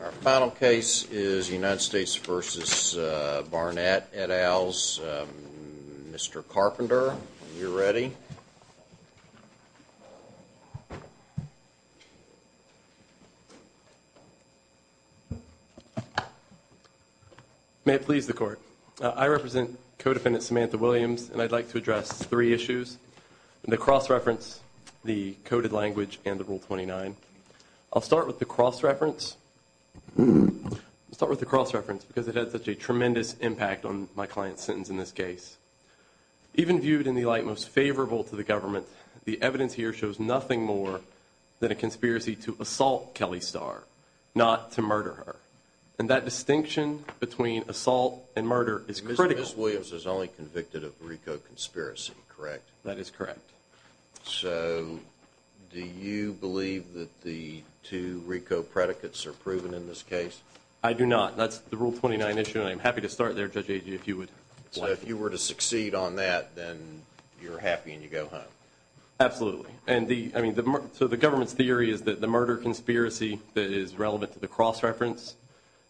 Our final case is United States v. Barnett et al.'s Mr. Carpenter. Are you ready? May it please the Court. I represent Codefendant Samantha Williams, and I'd like to address three issues, the cross-reference, the coded language, and the Rule 29. I'll start with the cross-reference. I'll start with the cross-reference because it had such a tremendous impact on my client's sentence in this case. Even viewed in the light most favorable to the government, the evidence here shows nothing more than a conspiracy to assault Kelly Starr, not to murder her. And that distinction between assault and murder is critical. Mr. Williams is only convicted of RICO conspiracy, correct? That is correct. So do you believe that the two RICO predicates are proven in this case? I do not. That's the Rule 29 issue, and I'm happy to start there, Judge Agee, if you would like. So if you were to succeed on that, then you're happy and you go home? Absolutely. So the government's theory is that the murder conspiracy that is relevant to the cross-reference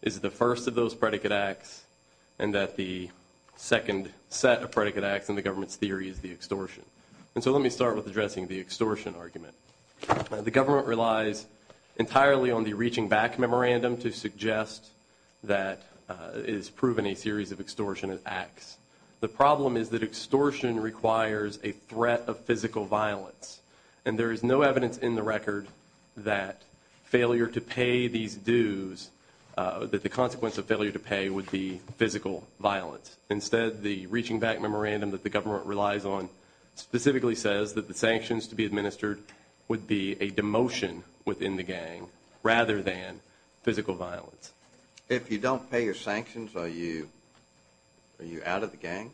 is the first of those predicate acts, and that the second set of predicate acts in the government's theory is the extortion. And so let me start with addressing the extortion argument. The government relies entirely on the reaching back memorandum to suggest that it is proven a series of extortion acts. The problem is that extortion requires a threat of physical violence, and there is no evidence in the record that failure to pay these dues, that the consequence of failure to pay would be physical violence. Instead, the reaching back memorandum that the government relies on specifically says that the sanctions to be administered would be a demotion within the gang rather than physical violence. If you don't pay your sanctions, are you out of the gang?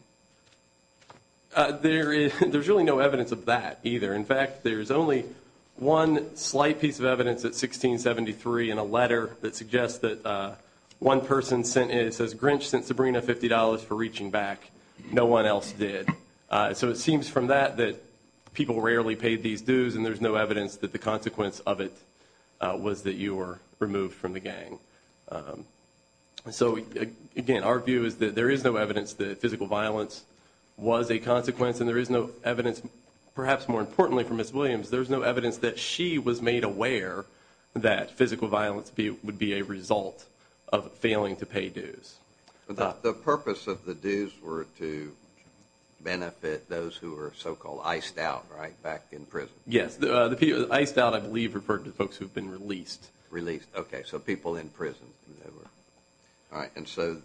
There's really no evidence of that, either. In fact, there's only one slight piece of evidence at 1673 in a letter that suggests that one person sent in, it says, Grinch sent Sabrina $50 for reaching back. No one else did. So it seems from that that people rarely paid these dues, and there's no evidence that the consequence of it was that you were removed from the gang. So, again, our view is that there is no evidence that physical violence was a consequence, and there is no evidence, perhaps more importantly for Ms. Williams, there's no evidence that she was made aware that physical violence would be a result of failing to pay dues. The purpose of the dues were to benefit those who were so-called iced out, right, back in prison? Yes. The people iced out, I believe, referred to the folks who had been released. Released. Okay, so people in prison. All right, and so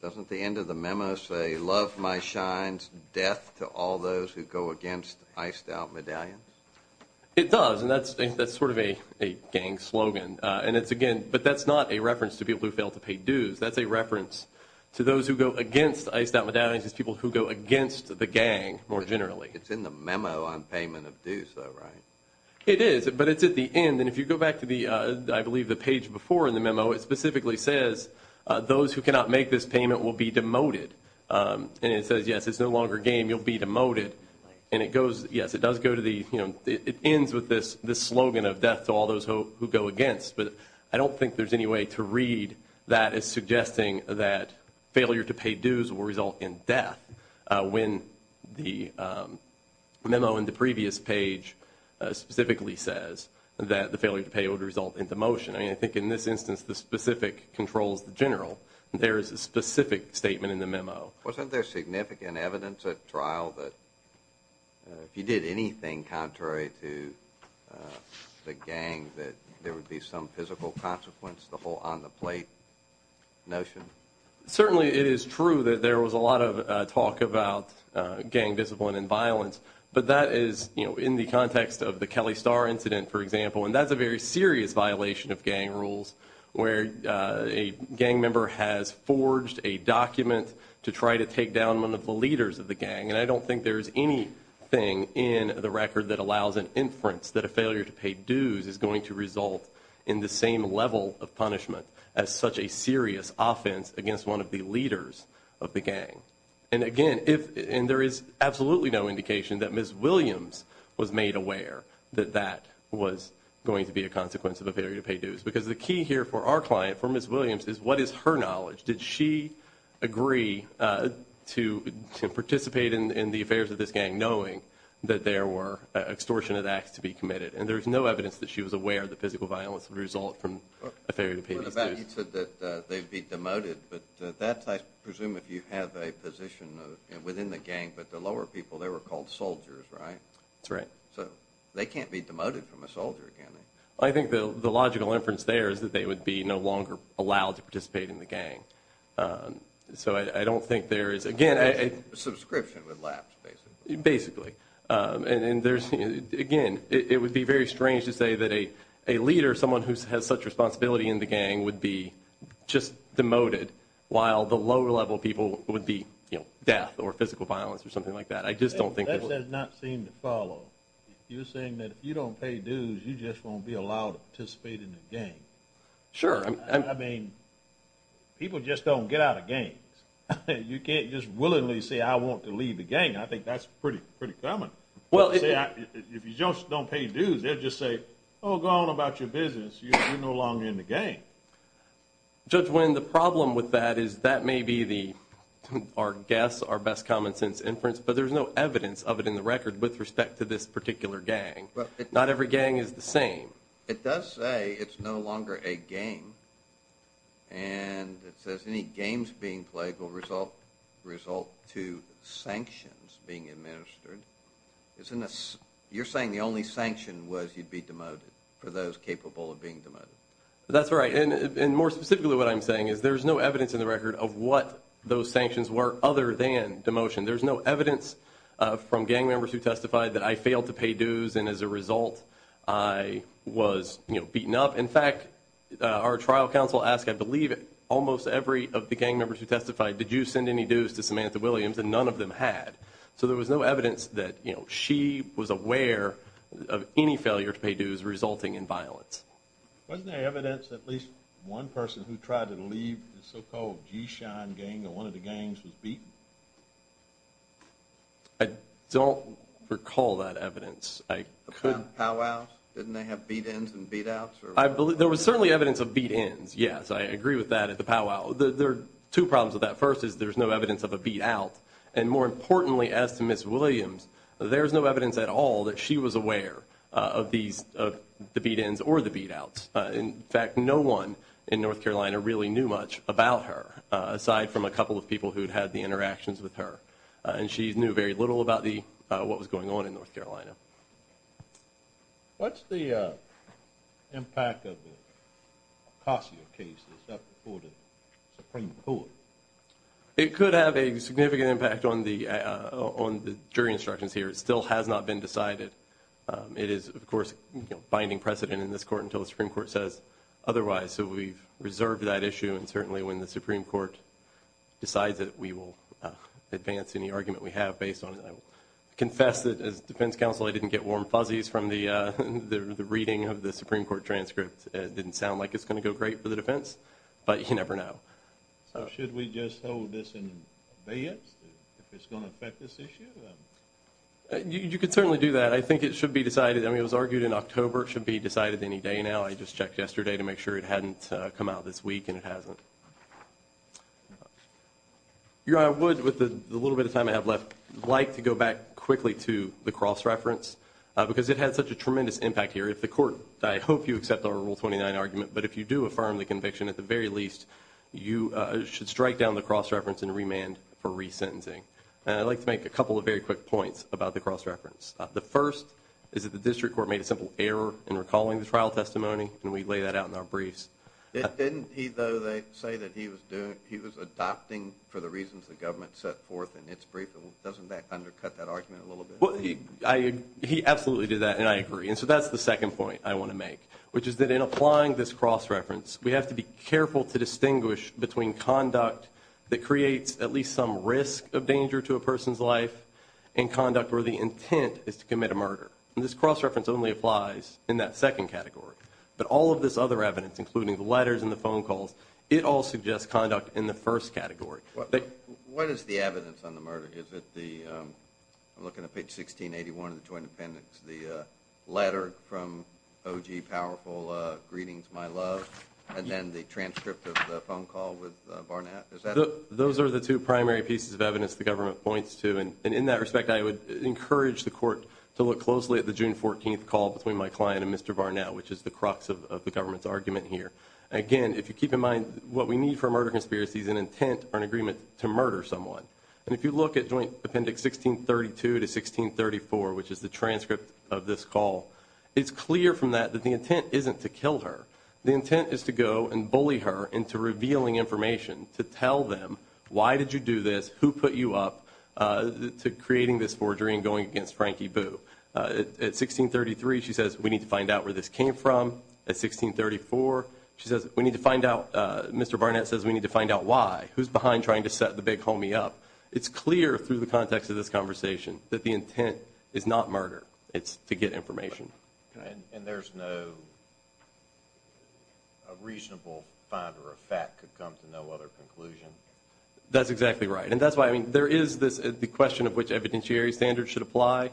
doesn't the end of the memo say, Love my shines, death to all those who go against iced out medallions? It does, and that's sort of a gang slogan, and it's, again, but that's not a reference to people who fail to pay dues. That's a reference to those who go against iced out medallions, it's people who go against the gang, more generally. It's in the memo on payment of dues, though, right? It is, but it's at the end, and if you go back to the, I believe, the page before in the memo, it specifically says, Those who cannot make this payment will be demoted, and it says, Yes, it's no longer game, you'll be demoted, and it goes, yes, it does go to the, you know, it ends with this slogan of death to all those who go against, but I don't think there's any way to read that as suggesting that failure to pay dues will result in death when the memo in the previous page specifically says that the failure to pay would result in demotion. I mean, I think in this instance, the specific controls the general. There is a specific statement in the memo. Wasn't there significant evidence at trial that if you did anything contrary to the gang that there would be some physical consequence, the whole on-the-plate notion? Certainly it is true that there was a lot of talk about gang discipline and violence, but that is, you know, in the context of the Kelly Star incident, for example, and that's a very serious violation of gang rules where a gang member has forged a document to try to take down one of the leaders of the gang, and I don't think there's anything in the record that allows an inference that a failure to pay dues is going to result in the same level of punishment as such a serious offense against one of the leaders of the gang. And again, if, and there is absolutely no indication that Ms. Williams was made aware that that was going to be a consequence of a failure to pay dues, because the key here for our client, for Ms. Williams, is what is her knowledge? Did she agree to participate in the affairs of this gang knowing that there were extortion of acts to be committed? And there's no evidence that she was aware that physical violence would result from a failure to pay these dues. You said that they'd be demoted, but that's, I presume, if you have a position within the gang, but the lower people, they were called soldiers, right? That's right. So they can't be demoted from a soldier, can they? I think the logical inference there is that they would be no longer allowed to participate in the gang. So I don't think there is, again... Subscription would lapse, basically. And there's, again, it would be very strange to say that a leader, someone who has such responsibility in the gang, would be just demoted while the lower level people would be, you know, death or physical violence or something like that. I just don't think... That does not seem to follow. You're saying that if you don't pay dues, you just won't be allowed to participate in the gang. Sure. I mean, people just don't get out of gangs. You can't just willingly say, I want to leave the gang. I think that's pretty common. Well, if you just don't pay dues, they'll just say, oh, go on about your business. You're no longer in the gang. Judge Wynn, the problem with that is that may be our guess, our best common sense inference, but there's no evidence of it in the record with respect to this particular gang. Not every gang is the same. It does say it's no longer a gang. And it says any games being played will result to sanctions being administered. You're saying the only sanction was you'd be demoted for those capable of being demoted. That's right. And more specifically, what I'm saying is there's no evidence in the record of what those sanctions were other than demotion. There's no evidence from gang members who testified that I failed to pay dues, and as a result, I was beaten up. In fact, our trial counsel asked, I believe, almost every of the gang members who testified, did you send any dues to Samantha Williams? And none of them had. So there was no evidence that she was aware of any failure to pay dues resulting in violence. Wasn't there evidence that at least one person who tried to leave the so-called G-Shine gang, or one of the gangs, was beaten? I don't recall that evidence. Pow-wows? Didn't they have beat-ins and beat-outs? There was certainly evidence of beat-ins, yes. I agree with that at the pow-wow. There was no evidence of a beat-out. And more importantly, as to Ms. Williams, there was no evidence at all that she was aware of the beat-ins or the beat-outs. In fact, no one in North Carolina really knew much about her, aside from a couple of people who'd had the interactions with her. And she knew very little about what was going on in North Carolina. What's the impact of the Ocasio case that's up before the Supreme Court? It could have a significant impact on the jury instructions here. It still has not been decided. It is, of course, a binding precedent in this court until the Supreme Court says otherwise. So we've reserved that issue. And certainly when the Supreme Court decides it, we will advance any argument we have based on it. I confess that as defense counsel I didn't get warm fuzzies from the reading of the Supreme Court transcript. It didn't sound like it's going to go great for the defense, but you never know. So should we just hold this and obey it, if it's going to affect this issue? You could certainly do that. I think it should be decided. I mean, it was argued in October. It should be decided any day now. I just checked yesterday to make sure it hadn't come out this week, and it hasn't. Your Honor, I would, with the little bit of time I have left, like to go back quickly to the cross-reference, because it had such a tremendous impact here. If the court, I hope you accept our Rule 29 argument, but if you do affirm the conviction at the very least, you should strike down the cross-reference and remand for resentencing. And I'd like to make a couple of very quick points about the cross-reference. The first is that the district court made a simple error in recalling the trial testimony, and we lay that out in our briefs. Didn't he, though, say that he was adopting for the reasons the government set forth in its brief? Doesn't that undercut that argument a little bit? He absolutely did that, and I agree. And so that's the second point I want to make, which is that in applying this cross-reference, we have to be careful to distinguish between conduct that creates at least some risk of danger to a person's life and conduct where the intent is to commit a murder. And this cross-reference only applies in that second category. But all of this other evidence, including the letters and the phone calls, it all suggests conduct in the first category. What is the evidence on the murder? Is it the, I'm looking at page 1681 of the Twin Appendix, the letter from O.G. Powerful, greetings my love, and then the transcript of the phone call with Barnett? Those are the two primary pieces of evidence the government points to. And in that respect, I would encourage the court to look closely at the June 14th call between my client and Mr. Barnett, which is the crux of the government's argument here. Again, if you keep in mind, what we need for a murder conspiracy is an intent or an agreement to murder someone. And if you look at Joint Appendix 1632 to 1634, which is the transcript of this call, it's clear from that that the intent isn't to kill her. The intent is to go and bully her into revealing information to tell them why did you do this, who put you up to creating this forgery and going against Frankie Boo. At 1633, she says, we need to find out where this came from. At 1634, she says, we need to find out, Mr. Barnett says, we need to find out why. Who's behind trying to set the big homie up? It's clear through the context of this conversation that the intent is not murder. It's to get information. And there's no reasonable find or a fact could come to no other conclusion? That's exactly right. And that's why, I mean, there is this, the question of which evidentiary standards should apply.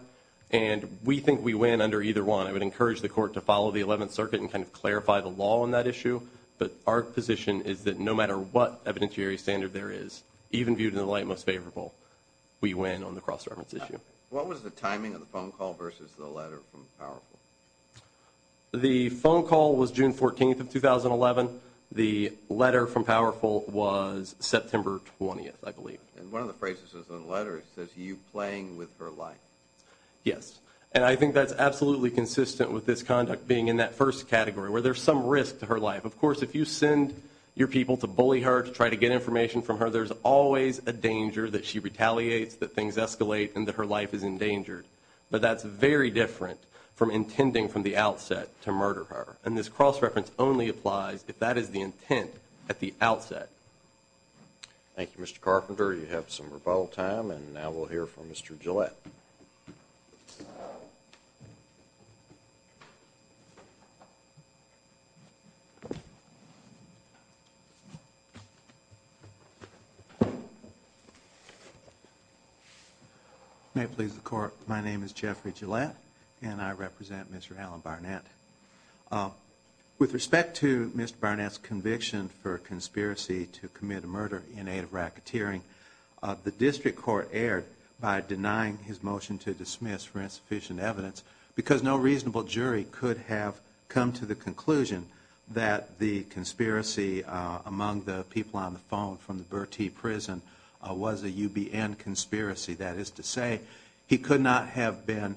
And we think we win under either one. I would encourage the court to follow the Eleventh Circuit and kind of clarify the law on that issue. But our position is that no matter what evidentiary standard there is, even viewed in the light most favorable, we win on the cross-governance issue. What was the timing of the phone call versus the letter from Powerful? The phone call was June 14th of 2011. The letter from Powerful was September 20th, I believe. And one of the phrases in the letter says, you playing with her life. Yes. And I think that's absolutely consistent with this conduct being in that first category, where there's some risk to her life. Of course, if you send your people to bully her, to try to get information from her, there's always a danger that she retaliates, that things escalate, and that her life is endangered. But that's very different from intending from the outset to murder her. And this cross-reference only applies if that is the intent at the outset. Thank you, Mr. Carpenter. You have some rebuttal time. And now we'll hear from Mr. Gillette. May it please the Court, my name is Jeffrey Gillette, and I represent Mr. Alan Barnett. With respect to Mr. Barnett's conviction for conspiracy to commit a murder in aid of racketeering, the District Court erred by denying his motion to dismiss for insufficient evidence, because no reasonable jury could have come to the conclusion that the conspiracy among the people on the phone from the Bertie Prison was a UBN conspiracy. That is to say, he could not have been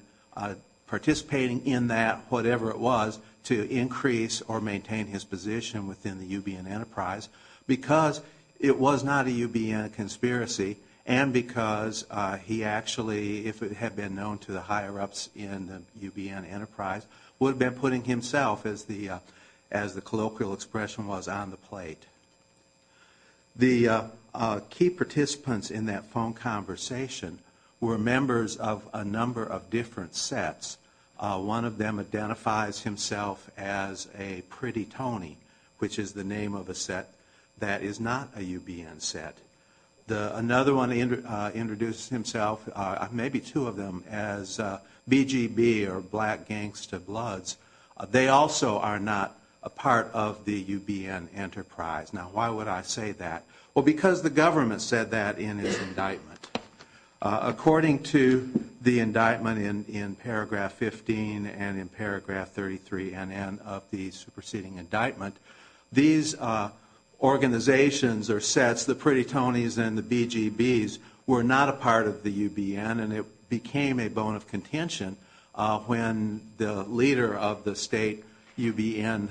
participating in that, whatever it was, to increase or maintain his position within the UBN enterprise, because it was not a UBN conspiracy, and because he actually, if it had been known to the higher-ups in the UBN enterprise, would have been putting himself, as the colloquial expression was, on the plate. The key participants in that phone conversation were members of a number of different sets. One of them identifies himself as a Pretty Tony, which is the name of a set that is not a UBN set. Another one introduced himself, maybe two of them, as BGB, or Black Gangsta Bloods. They also are not a part of the UBN enterprise. Now, why would I say that? Well, the indictment in paragraph 15 and in paragraph 33N of the superseding indictment, these organizations or sets, the Pretty Tonys and the BGBs, were not a part of the UBN, and it became a bone of contention when the leader of the state UBN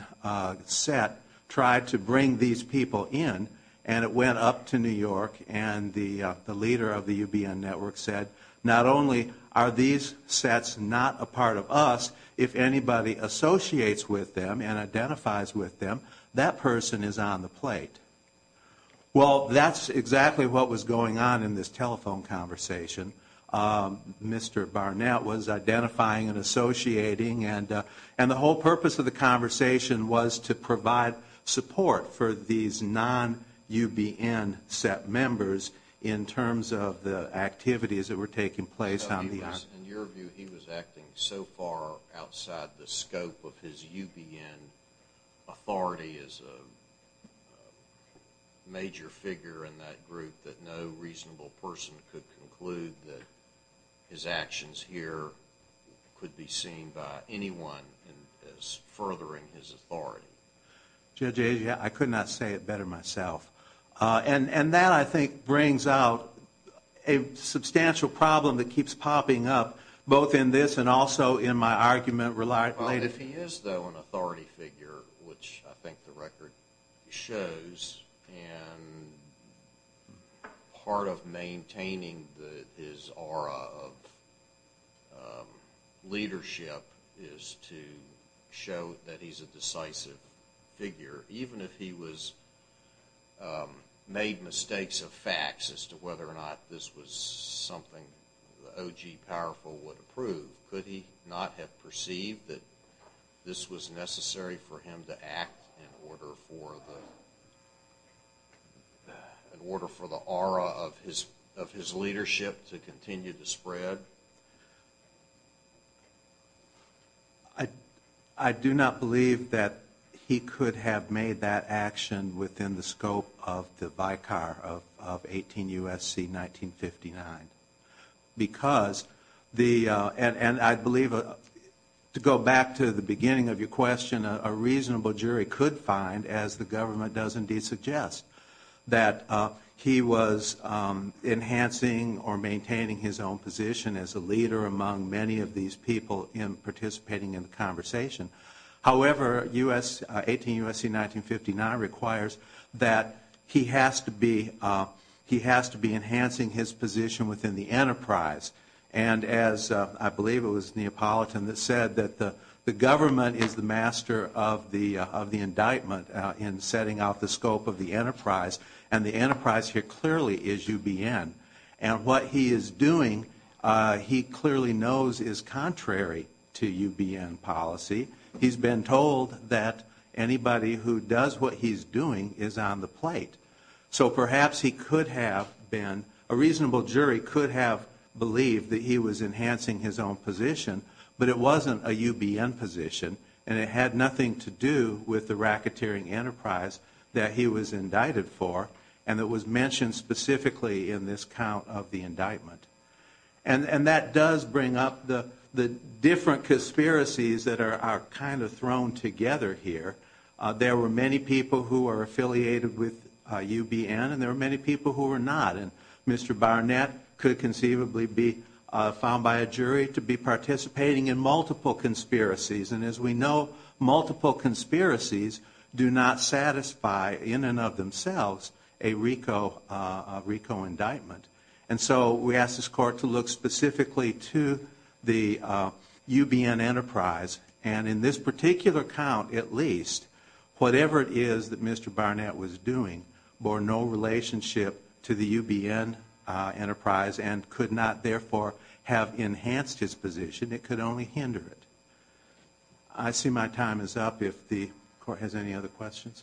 set tried to bring these people in, and it went up to New York, and the leader of the UBN network said, not only are these sets not a part of us, if anybody associates with them and identifies with them, that person is on the plate. Well, that's exactly what was going on in this telephone conversation. Mr. Barnett was identifying and associating, and the whole purpose of the conversation was to provide support for these non-UBN set members in terms of the activities that were taking place on the air. In your view, he was acting so far outside the scope of his UBN authority as a major figure in that group that no reasonable person could conclude that his actions here could be justified. Judge Asia, I could not say it better myself. And that, I think, brings out a substantial problem that keeps popping up, both in this and also in my argument related to this. Well, if he is, though, an authority figure, which I think the record shows, and part of maintaining his aura of leadership is to show that he's a decisive leader, and I think he's a decisive figure, even if he made mistakes of facts as to whether or not this was something the O.G. Powerful would approve, could he not have perceived that this was necessary for him to act in order for the aura of his leadership to continue to spread? I do not believe that he could have made that action within the scope of the Vicar of 18 U.S.C. 1959. Because the, and I believe, to go back to the beginning of your question, a reasonable jury could find, as the government does indeed suggest, that he was enhancing or maintaining his own position as a leader among many of these people in participating in the conversation. However, 18 U.S.C. 1959 requires that he has to be enhancing his position within the enterprise. And as I believe it was Neapolitan that said that the government is the master of the indictment in setting out the scope of the enterprise, and the enterprise here clearly is U.B.N. And what he is doing, he clearly knows, is contrary to U.B.N. policy. He's been told that anybody who does what he's doing is on the plate. So perhaps he could have been, a reasonable jury could have believed that he was enhancing his own position, but it wasn't a U.B.N. position, and it had nothing to do with the racketeering enterprise that he was indicted for, and it was mentioned specifically in this count of the indictment. And that does bring up the different conspiracies that are kind of thrown together here. There were many people who are affiliated with U.B.N., and there were many people who were not. And Mr. Barnett could conceivably be found by a jury to be participating in multiple conspiracies. And as we know, multiple conspiracies do not satisfy in and of themselves a RICO indictment. And so we asked this court to look specifically to the U.B.N. enterprise, and in this particular count at least, whatever it is that Mr. Barnett was doing bore no relationship to the U.B.N. enterprise, and could not therefore have enhanced his position. It could only hinder it. I see my time is up. If the court has any other questions.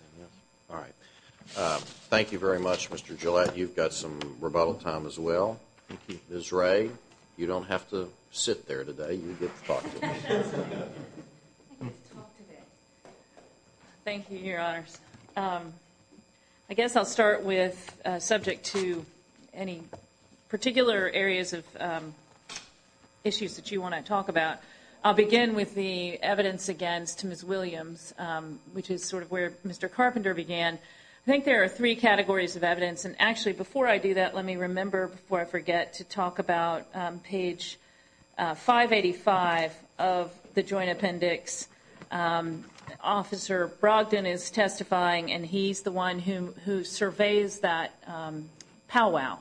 Thank you very much, Mr. Gillette. You've got some rebuttal time as well. Ms. Ray, you don't have to sit there today. You get to talk today. Thank you, Your Honors. I guess I'll start with subject to any particular areas of issues that you want to talk about. I'll begin with the evidence against Ms. Williams, which is sort of where Mr. Carpenter began. I think there are three categories of evidence, and of the Joint Appendix, Officer Brogdon is testifying, and he's the one who surveys that powwow.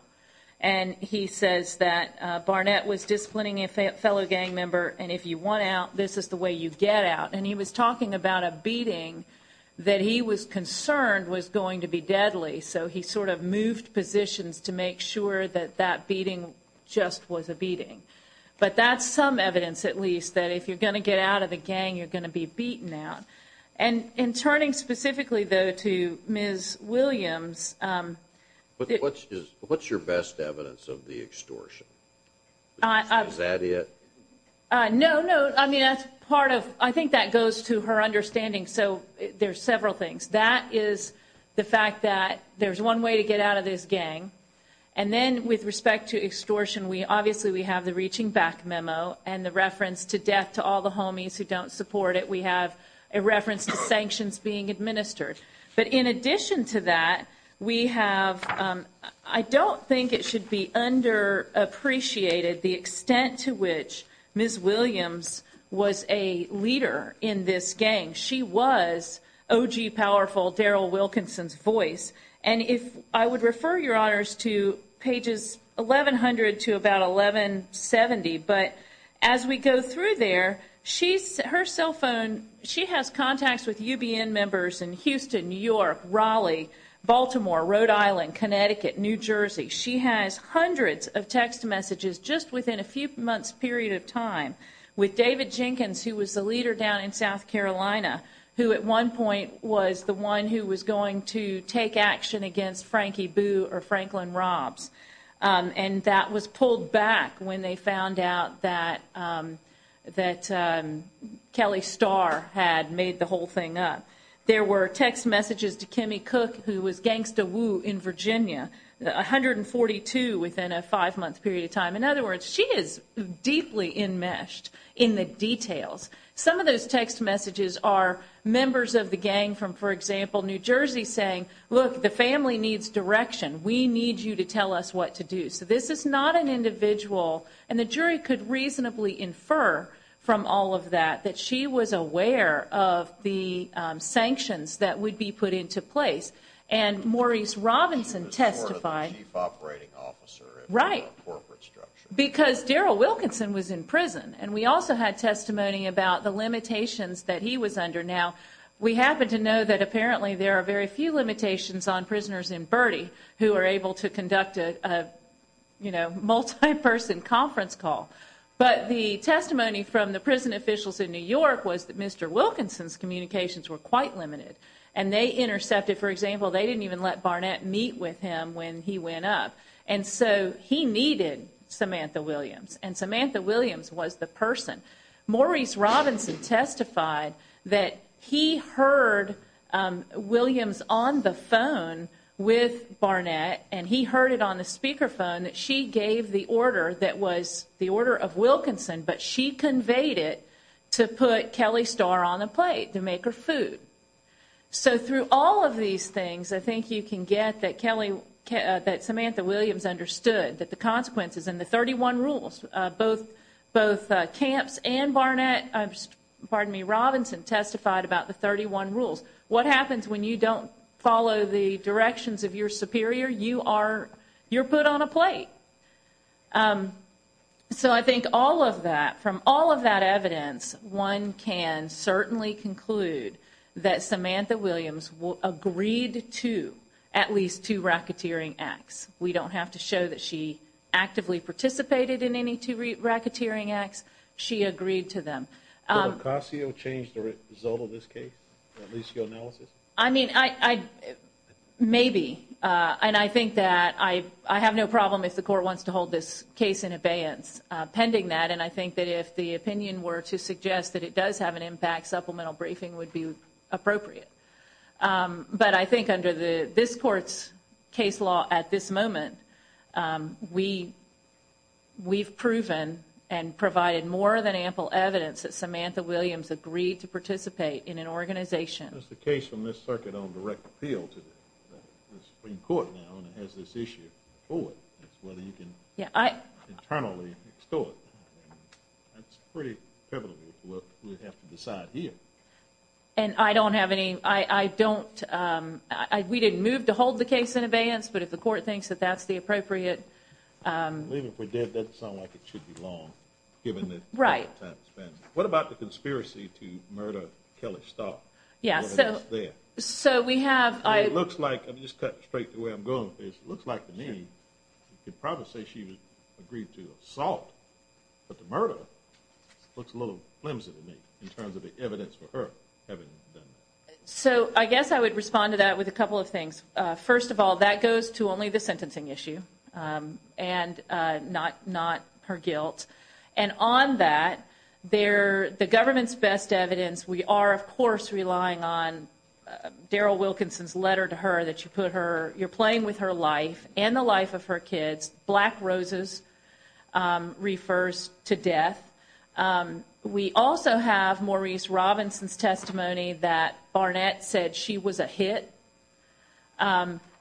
And he says that Barnett was disciplining a fellow gang member, and if you want out, this is the way you get out. And he was talking about a beating that he was concerned was going to be deadly, so he sort of moved positions to make sure that that beating just was a no-brainer. If you're going to get out of the gang, you're going to be beaten out. And in turning specifically, though, to Ms. Williams... What's your best evidence of the extortion? Is that it? No, no. I mean, that's part of... I think that goes to her understanding. So there's several things. That is the fact that there's one way to get out of this gang, and then with respect to extortion, obviously we have the reaching back memo and the reference to death to all the homies who don't support it. We have a reference to sanctions being administered. But in addition to that, we have... I don't think it should be underappreciated the extent to which Ms. Williams was a leader in this gang. She was O.G. Powerful, Daryl Wilkinson's voice. And if I would refer your honors to pages 1100 to about 1170, but as we go through there, her cell phone, she has contacts with UBN members in Houston, New York, Raleigh, Baltimore, Rhode Island, Connecticut, New Jersey. She has hundreds of text messages just within a few months' period of time with David Jenkins, who was the leader down in South Carolina, who at one point was the one who was going to take action against Frankie Boo or Franklin Robbs. And that was pulled back when they found out that Kelly Starr had made the whole thing up. There were text messages to Kimmy Cook, who was Gangsta Woo in Virginia, 142 within a five-month period of time. In other words, she is deeply enmeshed in the details. Some of those text messages are members of the gang from, for example, New Jersey saying, look, the family needs direction. We need you to tell us what to do. So this is not an individual, and the jury could reasonably infer from all of that, that she was aware of the sanctions that would be put into place. And Maurice Robinson testified. He was sort of the chief operating officer of the corporate structure. Because Daryl Wilkinson was in prison. And we also had testimony about the limitations that he was under. Now, we happen to know that apparently there are very few limitations on prisoners in Bertie who are able to conduct a multi-person conference call. But the testimony from the prison officials in New York was that Mr. Wilkinson's communications were quite limited. And they intercepted, for example, they didn't even let Barnett meet with him when he went up. And so he needed Samantha Williams. And Samantha Williams was the person. Maurice Robinson testified that he heard Williams on the phone with Barnett. And he heard it on the speaker phone that she gave the order that was the order of Wilkinson. But she conveyed it to put Kelly Starr on the plate to make her food. So through all of these things, I think you can get that Samantha Williams understood that the consequences and the 31 rules, both Camps and Barnett, pardon me, Robinson testified about the 31 rules. What happens when you don't follow the directions of your superior? You are, you're put on a plate. So I think all of that, from all of that evidence, one can certainly conclude that Samantha Williams agreed to at least two racketeering acts. We don't have to show that she actively participated in any two racketeering acts. She agreed to Did Ocasio change the result of this case? At least your analysis? I mean, I, maybe. And I think that I have no problem if the court wants to hold this case in abeyance pending that. And I think that if the opinion were to suggest that it does have an impact, supplemental briefing would be appropriate. But I think under this court's case law at this moment, we, we've proven and provided more than ample evidence that Samantha Williams agreed to participate in an organization. There's a case from this circuit on direct appeal to the Supreme Court now, and it has this issue of whether you can internally extort. That's pretty pivotal to what we have to decide here. And I don't have any, I don't, we didn't move to hold the case in abeyance, but if the court thinks that that's the appropriate I believe if we did, that'd sound like it should be long, given the amount of time it's been. What about the conspiracy to murder Kelly Stock? So we have It looks like, I'm just cutting straight to where I'm going with this, it looks like the name, you could probably say she agreed to assault, but the murder looks a little flimsy in terms of the evidence for her having done that. So I guess I would respond to that with a couple of things. First of all, that goes to only the sentencing issue, and not, not her guilt. And on that, there, the government's best evidence, we are of course relying on Daryl Wilkinson's letter to her that you put her, you're playing with her life and the life of her kids, black roses refers to death. We also have Maurice Robinson's testimony that Barnett said she was a hit.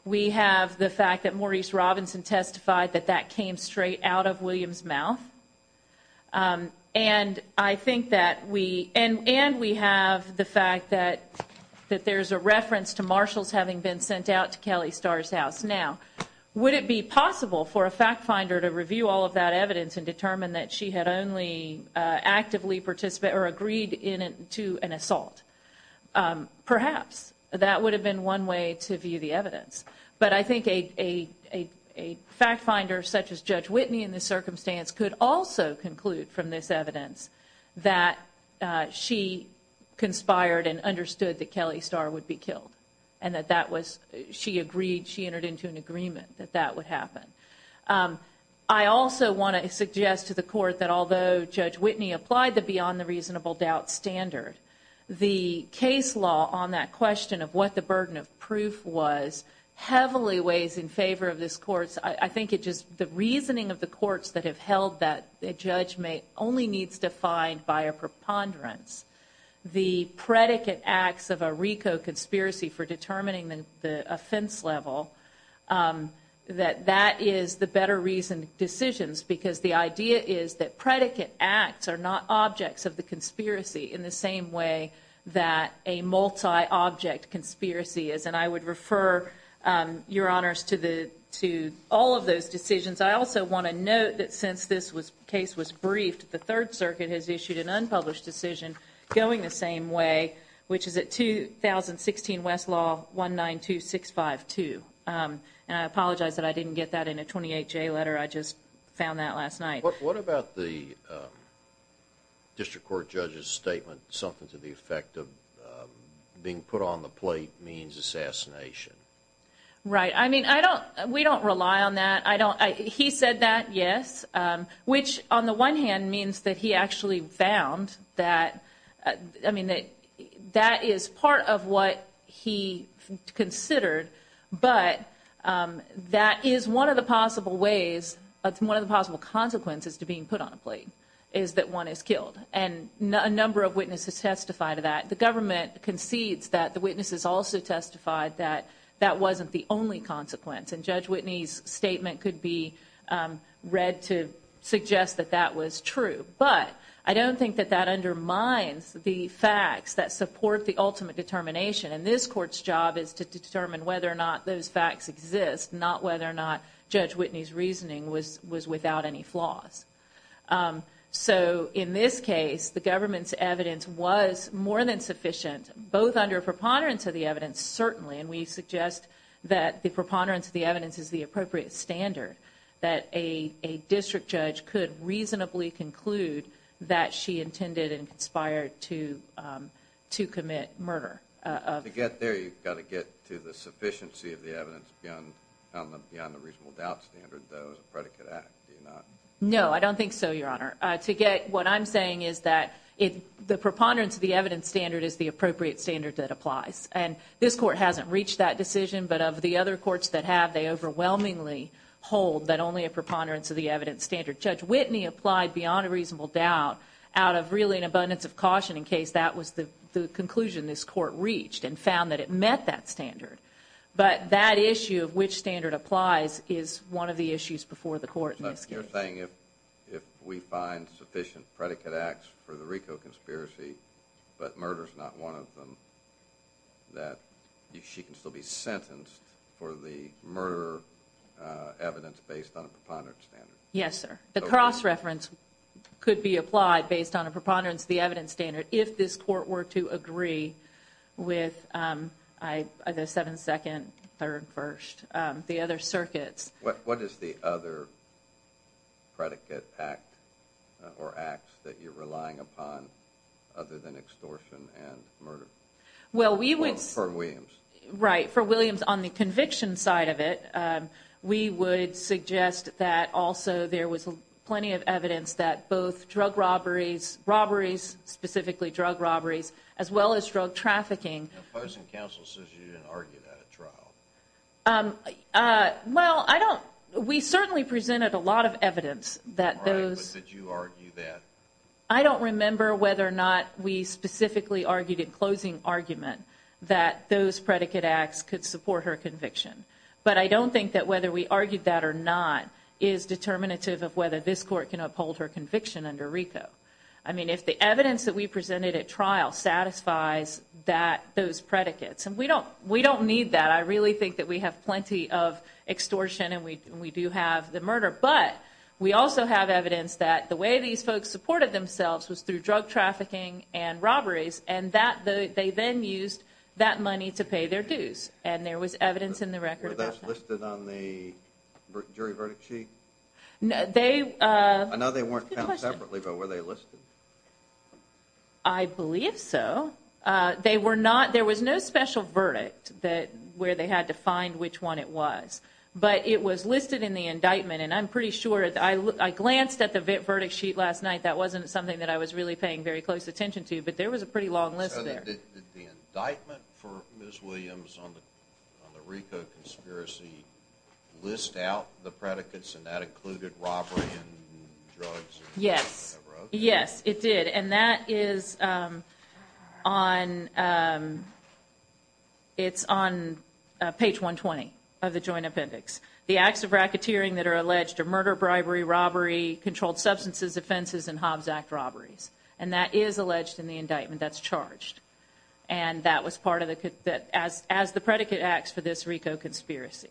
We have the fact that Maurice Robinson testified that that came straight out of William's mouth. And I think that we, and, and we have the fact that, that there's a reference to Marshall's having been sent out to Kelly Starr's house. Now, would it be possible for a fact finder to review all of that evidence and determine that she had only actively participated or agreed in, to an assault? Perhaps. That would have been one way to view the evidence. But I think a, a, a fact finder such as Judge Whitney in this circumstance could also conclude from this evidence that she conspired and understood that Kelly Starr would be killed. And that that was, she agreed, she entered into an agreement that that would happen. I also want to suggest to the court that although Judge Whitney applied the beyond the reasonable doubt standard, the case law on that question of what the burden of proof was heavily weighs in favor of this court's, I, I think it just, the reasoning of the courts that have held that a judge may, only needs to find by a preponderance the predicate acts of a RICO conspiracy for determining the, the offense level, that that is the better reason, decisions. Because the idea is that predicate acts are not objects of the conspiracy in the same way that a multi-object conspiracy is. And I would refer your honors to the, to all of those decisions. I also want to note that since this was, case was briefed, the Third Amendment, 16 Westlaw, 192652. And I apologize that I didn't get that in a 28-J letter. I just found that last night. What, what about the District Court Judge's statement something to the effect of being put on the plate means assassination? Right. I mean, I don't, we don't rely on that. I don't, he said that, yes. Which on the one hand means that he actually found that, I mean, that, that is part of what he considered. But that is one of the possible ways, it's one of the possible consequences to being put on a plate, is that one is killed. And a number of witnesses testify to that. The government concedes that. The witnesses also testified that that wasn't the only consequence. And Judge Whitney's statement could be read to suggest that that was true. But I don't think that that undermines the facts that support the ultimate determination. And this court's job is to determine whether or not those facts exist, not whether or not Judge Whitney's reasoning was, was without any flaws. So in this case, the government's evidence was more than sufficient, both under preponderance of the evidence, certainly. And we suggest that the preponderance of the evidence is the appropriate standard that a, a district judge could reasonably conclude that she intended and conspired to, to commit murder. To get there, you've got to get to the sufficiency of the evidence beyond the, beyond the reasonable doubt standard, though, as a predicate act, do you not? No, I don't think so, Your Honor. To get, what I'm saying is that it, the preponderance of the evidence standard is the appropriate standard that applies. And this court hasn't reached that decision, but of the other courts that have, they overwhelmingly hold that only a preponderance of the evidence standard. Judge Whitney applied beyond a reasonable doubt out of really an abundance of caution in case that was the, the conclusion this court reached and found that it met that standard. But that issue of which standard applies is one of the issues before the court in this case. So you're saying if, if we find sufficient predicate acts for the Rico conspiracy, but she can still be sentenced for the murder evidence based on a preponderance standard? Yes, sir. The cross-reference could be applied based on a preponderance of the evidence standard if this court were to agree with, I, the 7th, 2nd, 3rd, 1st, the other circuits. What is the other predicate act or acts that you're relying upon other than extortion and murder? Well, we would... For Williams. Right. For Williams on the conviction side of it, we would suggest that also there was plenty of evidence that both drug robberies, robberies, specifically drug robberies, as well as drug trafficking. The opposing counsel says you didn't argue that at trial. Well, I don't, we certainly presented a lot of evidence that those... Right, but did you argue that? I don't remember whether or not we specifically argued in closing argument that those predicate acts could support her conviction, but I don't think that whether we argued that or not is determinative of whether this court can uphold her conviction under Rico. I mean, if the evidence that we presented at trial satisfies that, those predicates, and we don't, we don't need that. I really think that we have plenty of extortion and we do have the murder, but we also have evidence that the way these folks supported themselves was through drug trafficking and that they then used that money to pay their dues, and there was evidence in the record about that. Were those listed on the jury verdict sheet? They... I know they weren't counted separately, but were they listed? I believe so. They were not, there was no special verdict where they had to find which one it was, but it was listed in the indictment and I'm pretty sure, I glanced at the verdict sheet last night, that wasn't something that I was really paying very close attention to, but there was a pretty long list there. So, did the indictment for Ms. Williams on the Rico conspiracy list out the predicates and that included robbery and drugs? Yes, yes, it did, and that is on, it's on page 120 of the joint appendix. The acts of racketeering that are alleged are murder, bribery, robbery, controlled substances, offenses, and Hobbs Act robberies, and that is alleged in the indictment, that's charged, and that was part of the, as the predicate acts for this Rico conspiracy.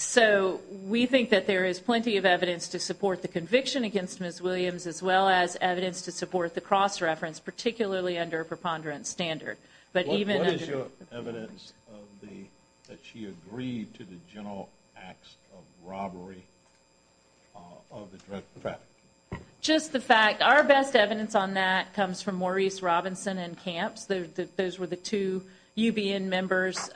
So, we think that there is plenty of evidence to support the conviction against Ms. Williams, as well as evidence to support the cross-reference, particularly under a preponderance standard, but even... Evidence of the, that she agreed to the general acts of robbery, of the drug trafficking? Just the fact, our best evidence on that comes from Maurice Robinson and Camps, those were the two UBN members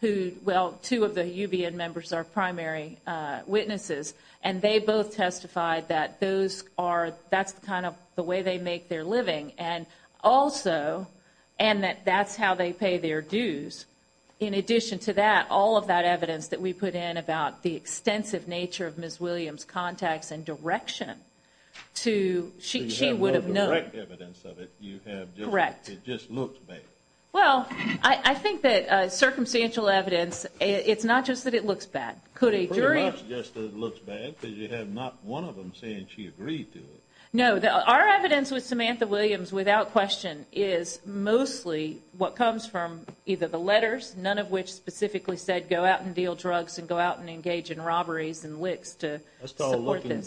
who, well, two of the UBN members are primary witnesses, and they both testified that those are, that's kind of the way they make their living, and also, and that that's how they pay their dues. In addition to that, all of that evidence that we put in about the extensive nature of Ms. Williams' contacts and direction to, she would have known. So you have no direct evidence of it, you have just... Correct. It just looks bad. Well, I think that circumstantial evidence, it's not just that it looks bad. Could a jury... It's pretty much just that it looks bad, because you have not one of them saying she agreed to it. No, our evidence with Samantha Williams, without question, is mostly what comes from either the letters, none of which specifically said go out and deal drugs and go out and engage in robberies and licks to support this. That's all looking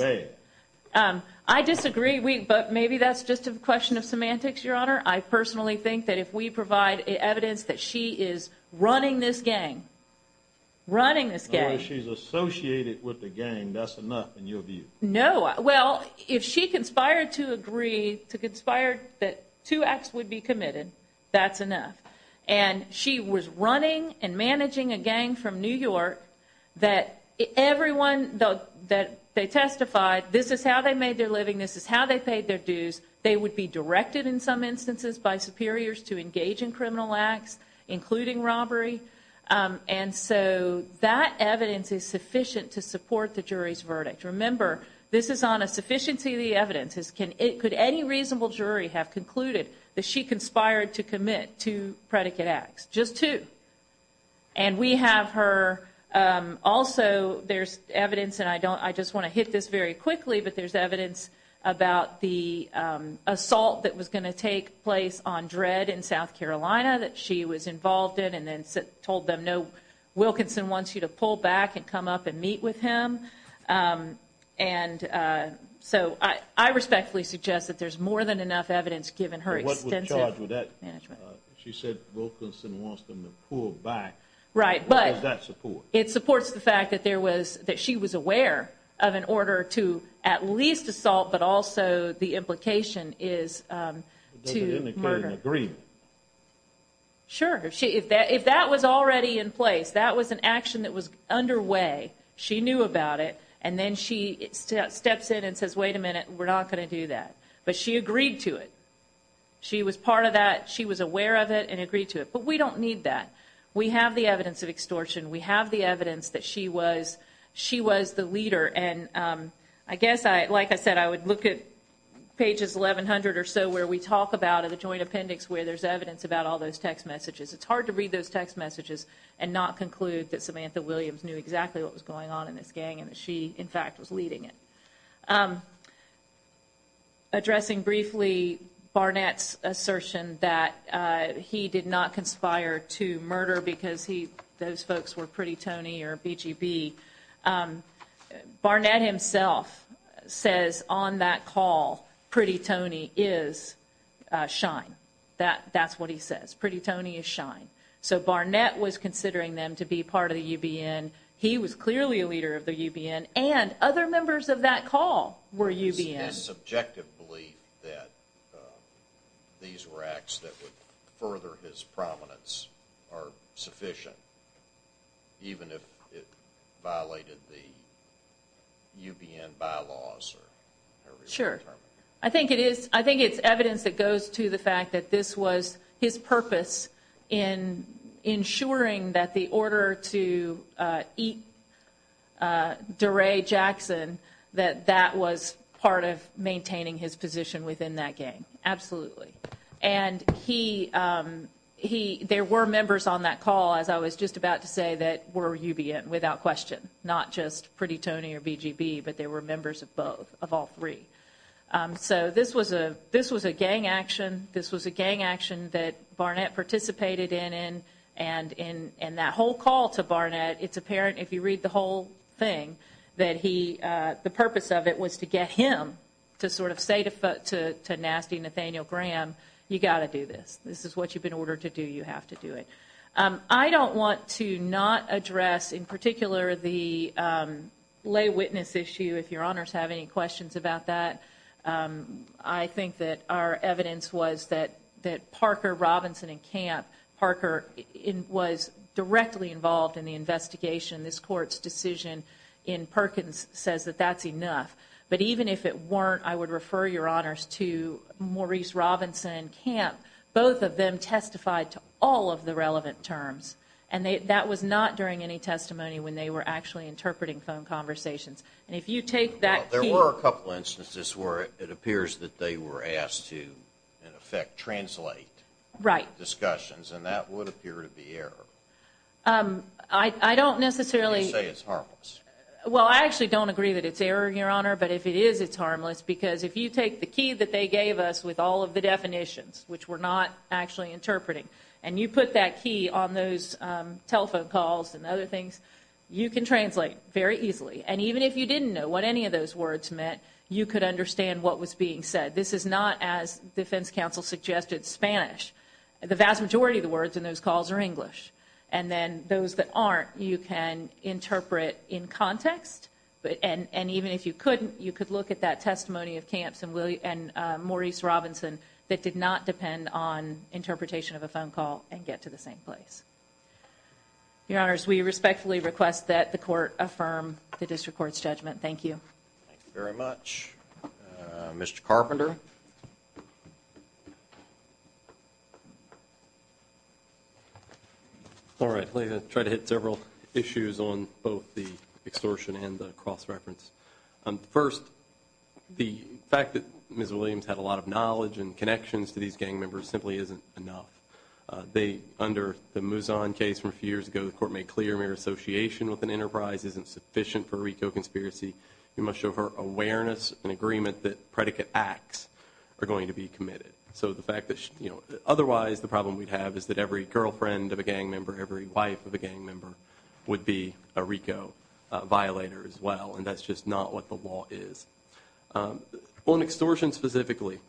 bad. I disagree, but maybe that's just a question of semantics, Your Honor. I personally think that if we provide evidence that she is running this gang, running this gang... In other words, she's associated with the gang, that's enough, in your view. No. Well, if she conspired to agree, to conspire that two acts would be committed, that's enough. And she was running and managing a gang from New York that everyone that they testified, this is how they made their living, this is how they paid their dues, they would be directed in some instances by superiors to engage in criminal acts, including robbery. And so that evidence is sufficient to support the jury's verdict. Remember, this is on a sufficiency of the evidence. Could any reasonable jury have concluded that she conspired to commit two predicate acts? Just two. And we have her... Also, there's evidence, and I just want to hit this very quickly, but there's evidence about the assault that was going to take place on Dred in South Carolina that she was involved in and then told them, no, Wilkinson wants you to pull back and come up and meet with him. And so I respectfully suggest that there's more than enough evidence given her extensive management. She said Wilkinson wants them to pull back. What does that support? It supports the fact that she was aware of an order to at least assault, but also the implication is to murder. Sure. If that was already in place, that was an action that was underway, she knew about it, and then she steps in and says, wait a minute, we're not going to do that. But she agreed to it. She was part of that. She was aware of it and agreed to it. But we don't need that. We have the evidence of extortion. We have the evidence that she was the leader. And I guess, like I said, I would look at pages 1100 or so where we talk about the joint appendix where there's evidence about all those text messages. It's hard to read those text messages and not conclude that Samantha Williams knew exactly what was going on in this gang and that she, in fact, was leading it. Addressing briefly Barnett's assertion that he did not conspire to murder because those folks were Pretty Tony or BGB, Barnett himself says on that call, Pretty Tony is Shine. That's what he says. Pretty Tony is Shine. So Barnett was considering them to be part of the UBN. He was clearly a leader of the UBN. And other members of that call were UBN. Is his subjective belief that these were acts that would further his prominence are sufficient even if it violated the UBN bylaws? Sure. I think it's evidence that goes to the fact that this was his purpose in ensuring that the order to eat DeRay Jackson, that that was part of maintaining his position within that gang. Absolutely. And there were members on that call, as I was just about to say, that were UBN without question, not just Pretty Tony or BGB, but there were members of both, of all three. So this was a gang action. This was a gang action that Barnett participated in and that whole call to Barnett, it's apparent if you read the whole thing that the purpose of it was to get him to sort of say to nasty Nathaniel Graham, you got to do this. This is what you've been ordered to do. You have to do it. I don't want to not address, in particular, the lay witness issue, if your honors have any questions about that. I think that our evidence was that Parker, Robinson, and Camp, Parker was directly involved in the investigation. This court's decision in Perkins says that that's enough. But even if it weren't, I would refer your honors to Maurice Robinson, Camp. Both of them testified to all of the relevant terms. And that was not during any testimony when they were actually interpreting phone conversations. And if you take that key... There were a couple instances where it appears that they were asked to, in effect, translate discussions, and that would appear to be error. I don't necessarily... You say it's harmless. Well, I actually don't agree that it's error, your honor. But if it is, it's harmless. Because if you take the key that they gave us with all of the definitions, which we're not actually interpreting, and you put that key on those telephone calls and other things, you can translate very easily. And even if you didn't know what any of those words meant, you could understand what was being said. This is not, as defense counsel suggested, Spanish. The vast majority of the words in those calls are English. And then those that aren't, you can interpret in context. And even if you couldn't, you could look at that testimony of Camps and Maurice Robinson that did not depend on interpretation of a phone call and get to the same place. Your honors, we respectfully request that the court affirm the district court's judgment. Thank you. Thank you very much. Mr. Carpenter. All right. I'm going to try to hit several issues on both the extortion and the cross-reference. First, the fact that Ms. Williams had a lot of knowledge and connections to these gang members simply isn't enough. Under the Mouzon case from a few years ago, the court made clear mere association with an enterprise isn't sufficient for a RICO conspiracy. We committed. So the fact that, you know, otherwise the problem we'd have is that every girlfriend of a gang member, every wife of a gang member would be a RICO violator as well. And that's just not what the law is. On extortion specifically,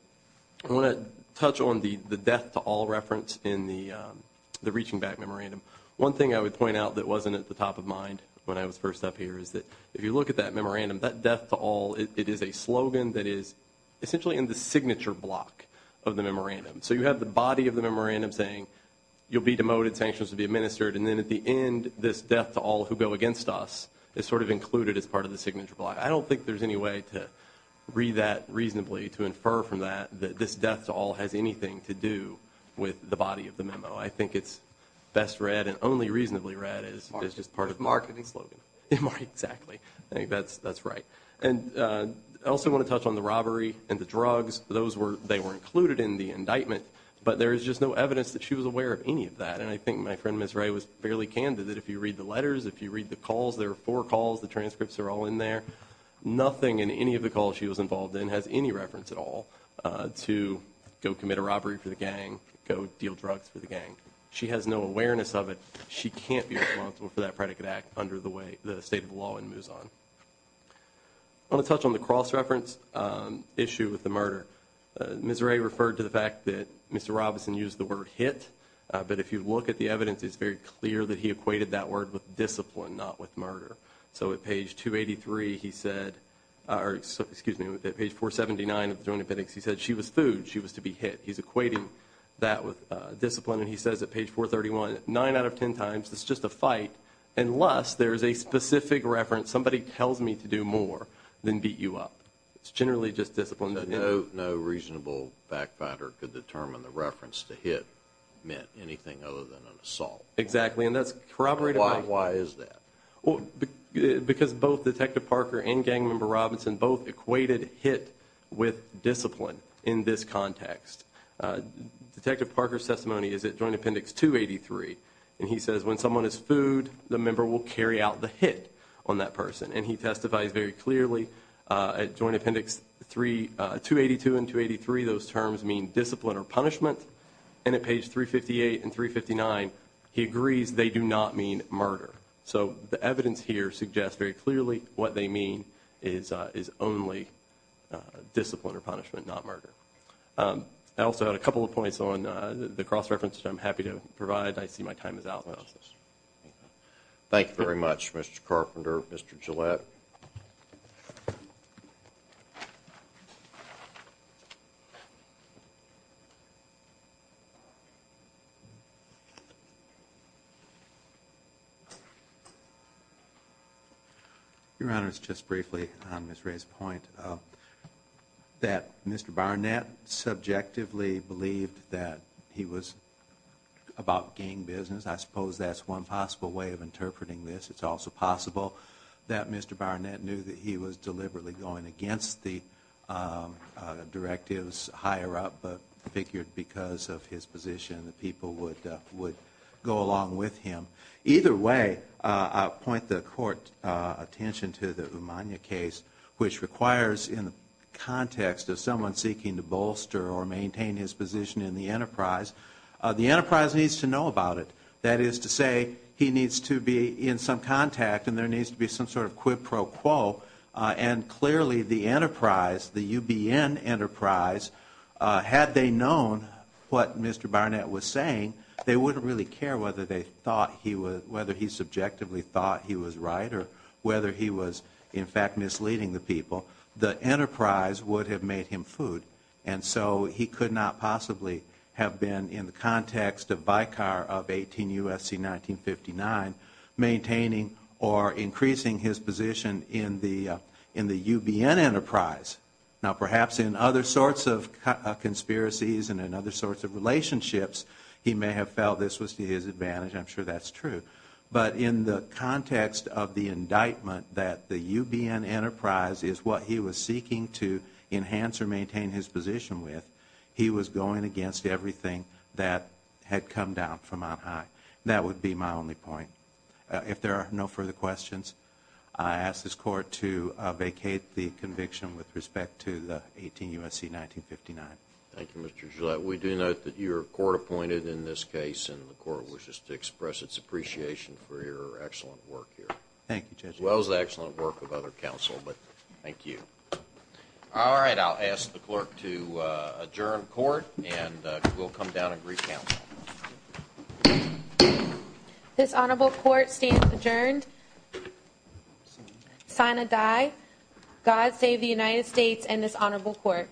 I want to touch on the death to all reference in the reaching back memorandum. One thing I would point out that wasn't at the top of mind when I was first up here is that if you look at that memorandum, that death to all, it is a slogan that is essentially in the signature block of the memorandum. So you have the body of the memorandum saying, you'll be demoted, sanctions will be administered. And then at the end, this death to all who go against us is sort of included as part of the signature block. I don't think there's any way to read that reasonably to infer from that that this death to all has anything to do with the body of the memo. I think it's best read and only reasonably read as just part of marketing slogan. Exactly. I think that's right. And I also want to touch on the robbery and the drugs. Those were, they were included in the indictment, but there is just no evidence that she was aware of any of that. And I think my friend, Ms. Ray, was fairly candid that if you read the letters, if you read the calls, there are four calls, the transcripts are all in there. Nothing in any of the calls she was involved in has any reference at all to go commit a robbery for the gang, go deal drugs for the gang. She has no awareness of it. She can't be responsible for that predicate under the way the state of the law moves on. I want to touch on the cross-reference issue with the murder. Ms. Ray referred to the fact that Mr. Robinson used the word hit, but if you look at the evidence, it's very clear that he equated that word with discipline, not with murder. So at page 283, he said, or excuse me, at page 479 of the drone appendix, he said she was food, she was to be hit. He's equating that with discipline, and he says at page 431, nine out of ten times, it's just a fight, unless there's a specific reference, somebody tells me to do more than beat you up. It's generally just discipline. No reasonable back-finder could determine the reference to hit meant anything other than an assault. Exactly, and that's corroborated by... Why is that? Because both Detective Parker and Gang Member Robinson both equated hit with discipline in this context. Detective Parker's testimony is at Joint Appendix 283, and he says when someone is food, the member will carry out the hit on that person, and he testifies very clearly at Joint Appendix 282 and 283, those terms mean discipline or punishment, and at page 358 and 359, he agrees they do not mean murder. So the evidence here suggests very clearly that they do not mean murder. I also have a couple of points on the cross-references I'm happy to provide. I see my time is out. Thank you very much, Mr. Carpenter. Mr. Gillette. Your Honor, it's just briefly on Ms. Ray's point that Mr. Barnett subjectively believed that he was about gang business. I suppose that's one possible way of interpreting this. It's also possible that Mr. Barnett knew that he was deliberately going against the directives higher up, but figured because of his position, the people would go along with him. Either way, I'll point the Court's attention to the Umania case, which requires in the context of someone seeking to bolster or maintain his position in the enterprise, the enterprise needs to know about it. That is to say, he needs to be in some contact and there needs to be some sort of quid pro quo, and clearly the enterprise, the UBN enterprise, had they known what Mr. Barnett was saying, they wouldn't really care whether he subjectively thought he was right or whether he was in fact misleading the people. The enterprise would have made him food, and so he could not possibly have been in the context of BICAR of 18 U.S.C. 1959, maintaining or increasing his position in the UBN enterprise. Now perhaps in other sorts of conspiracies and in other sorts of relationships, he may have felt this was to his advantage. I'm sure that's true. But in the context of the indictment that the prosecutor maintained his position with, he was going against everything that had come down from on high. That would be my only point. If there are no further questions, I ask this Court to vacate the conviction with respect to the 18 U.S.C. 1959. Thank you, Mr. Gillette. We do note that your Court appointed in this case, and the Court wishes to express its appreciation for your excellent work here, as well as the excellent work of other counsel. But thank you. All right, I'll ask the Clerk to adjourn Court, and we'll come down and re-counsel. This Honorable Court stands adjourned. Sign a die. God save the United States and this Honorable Court.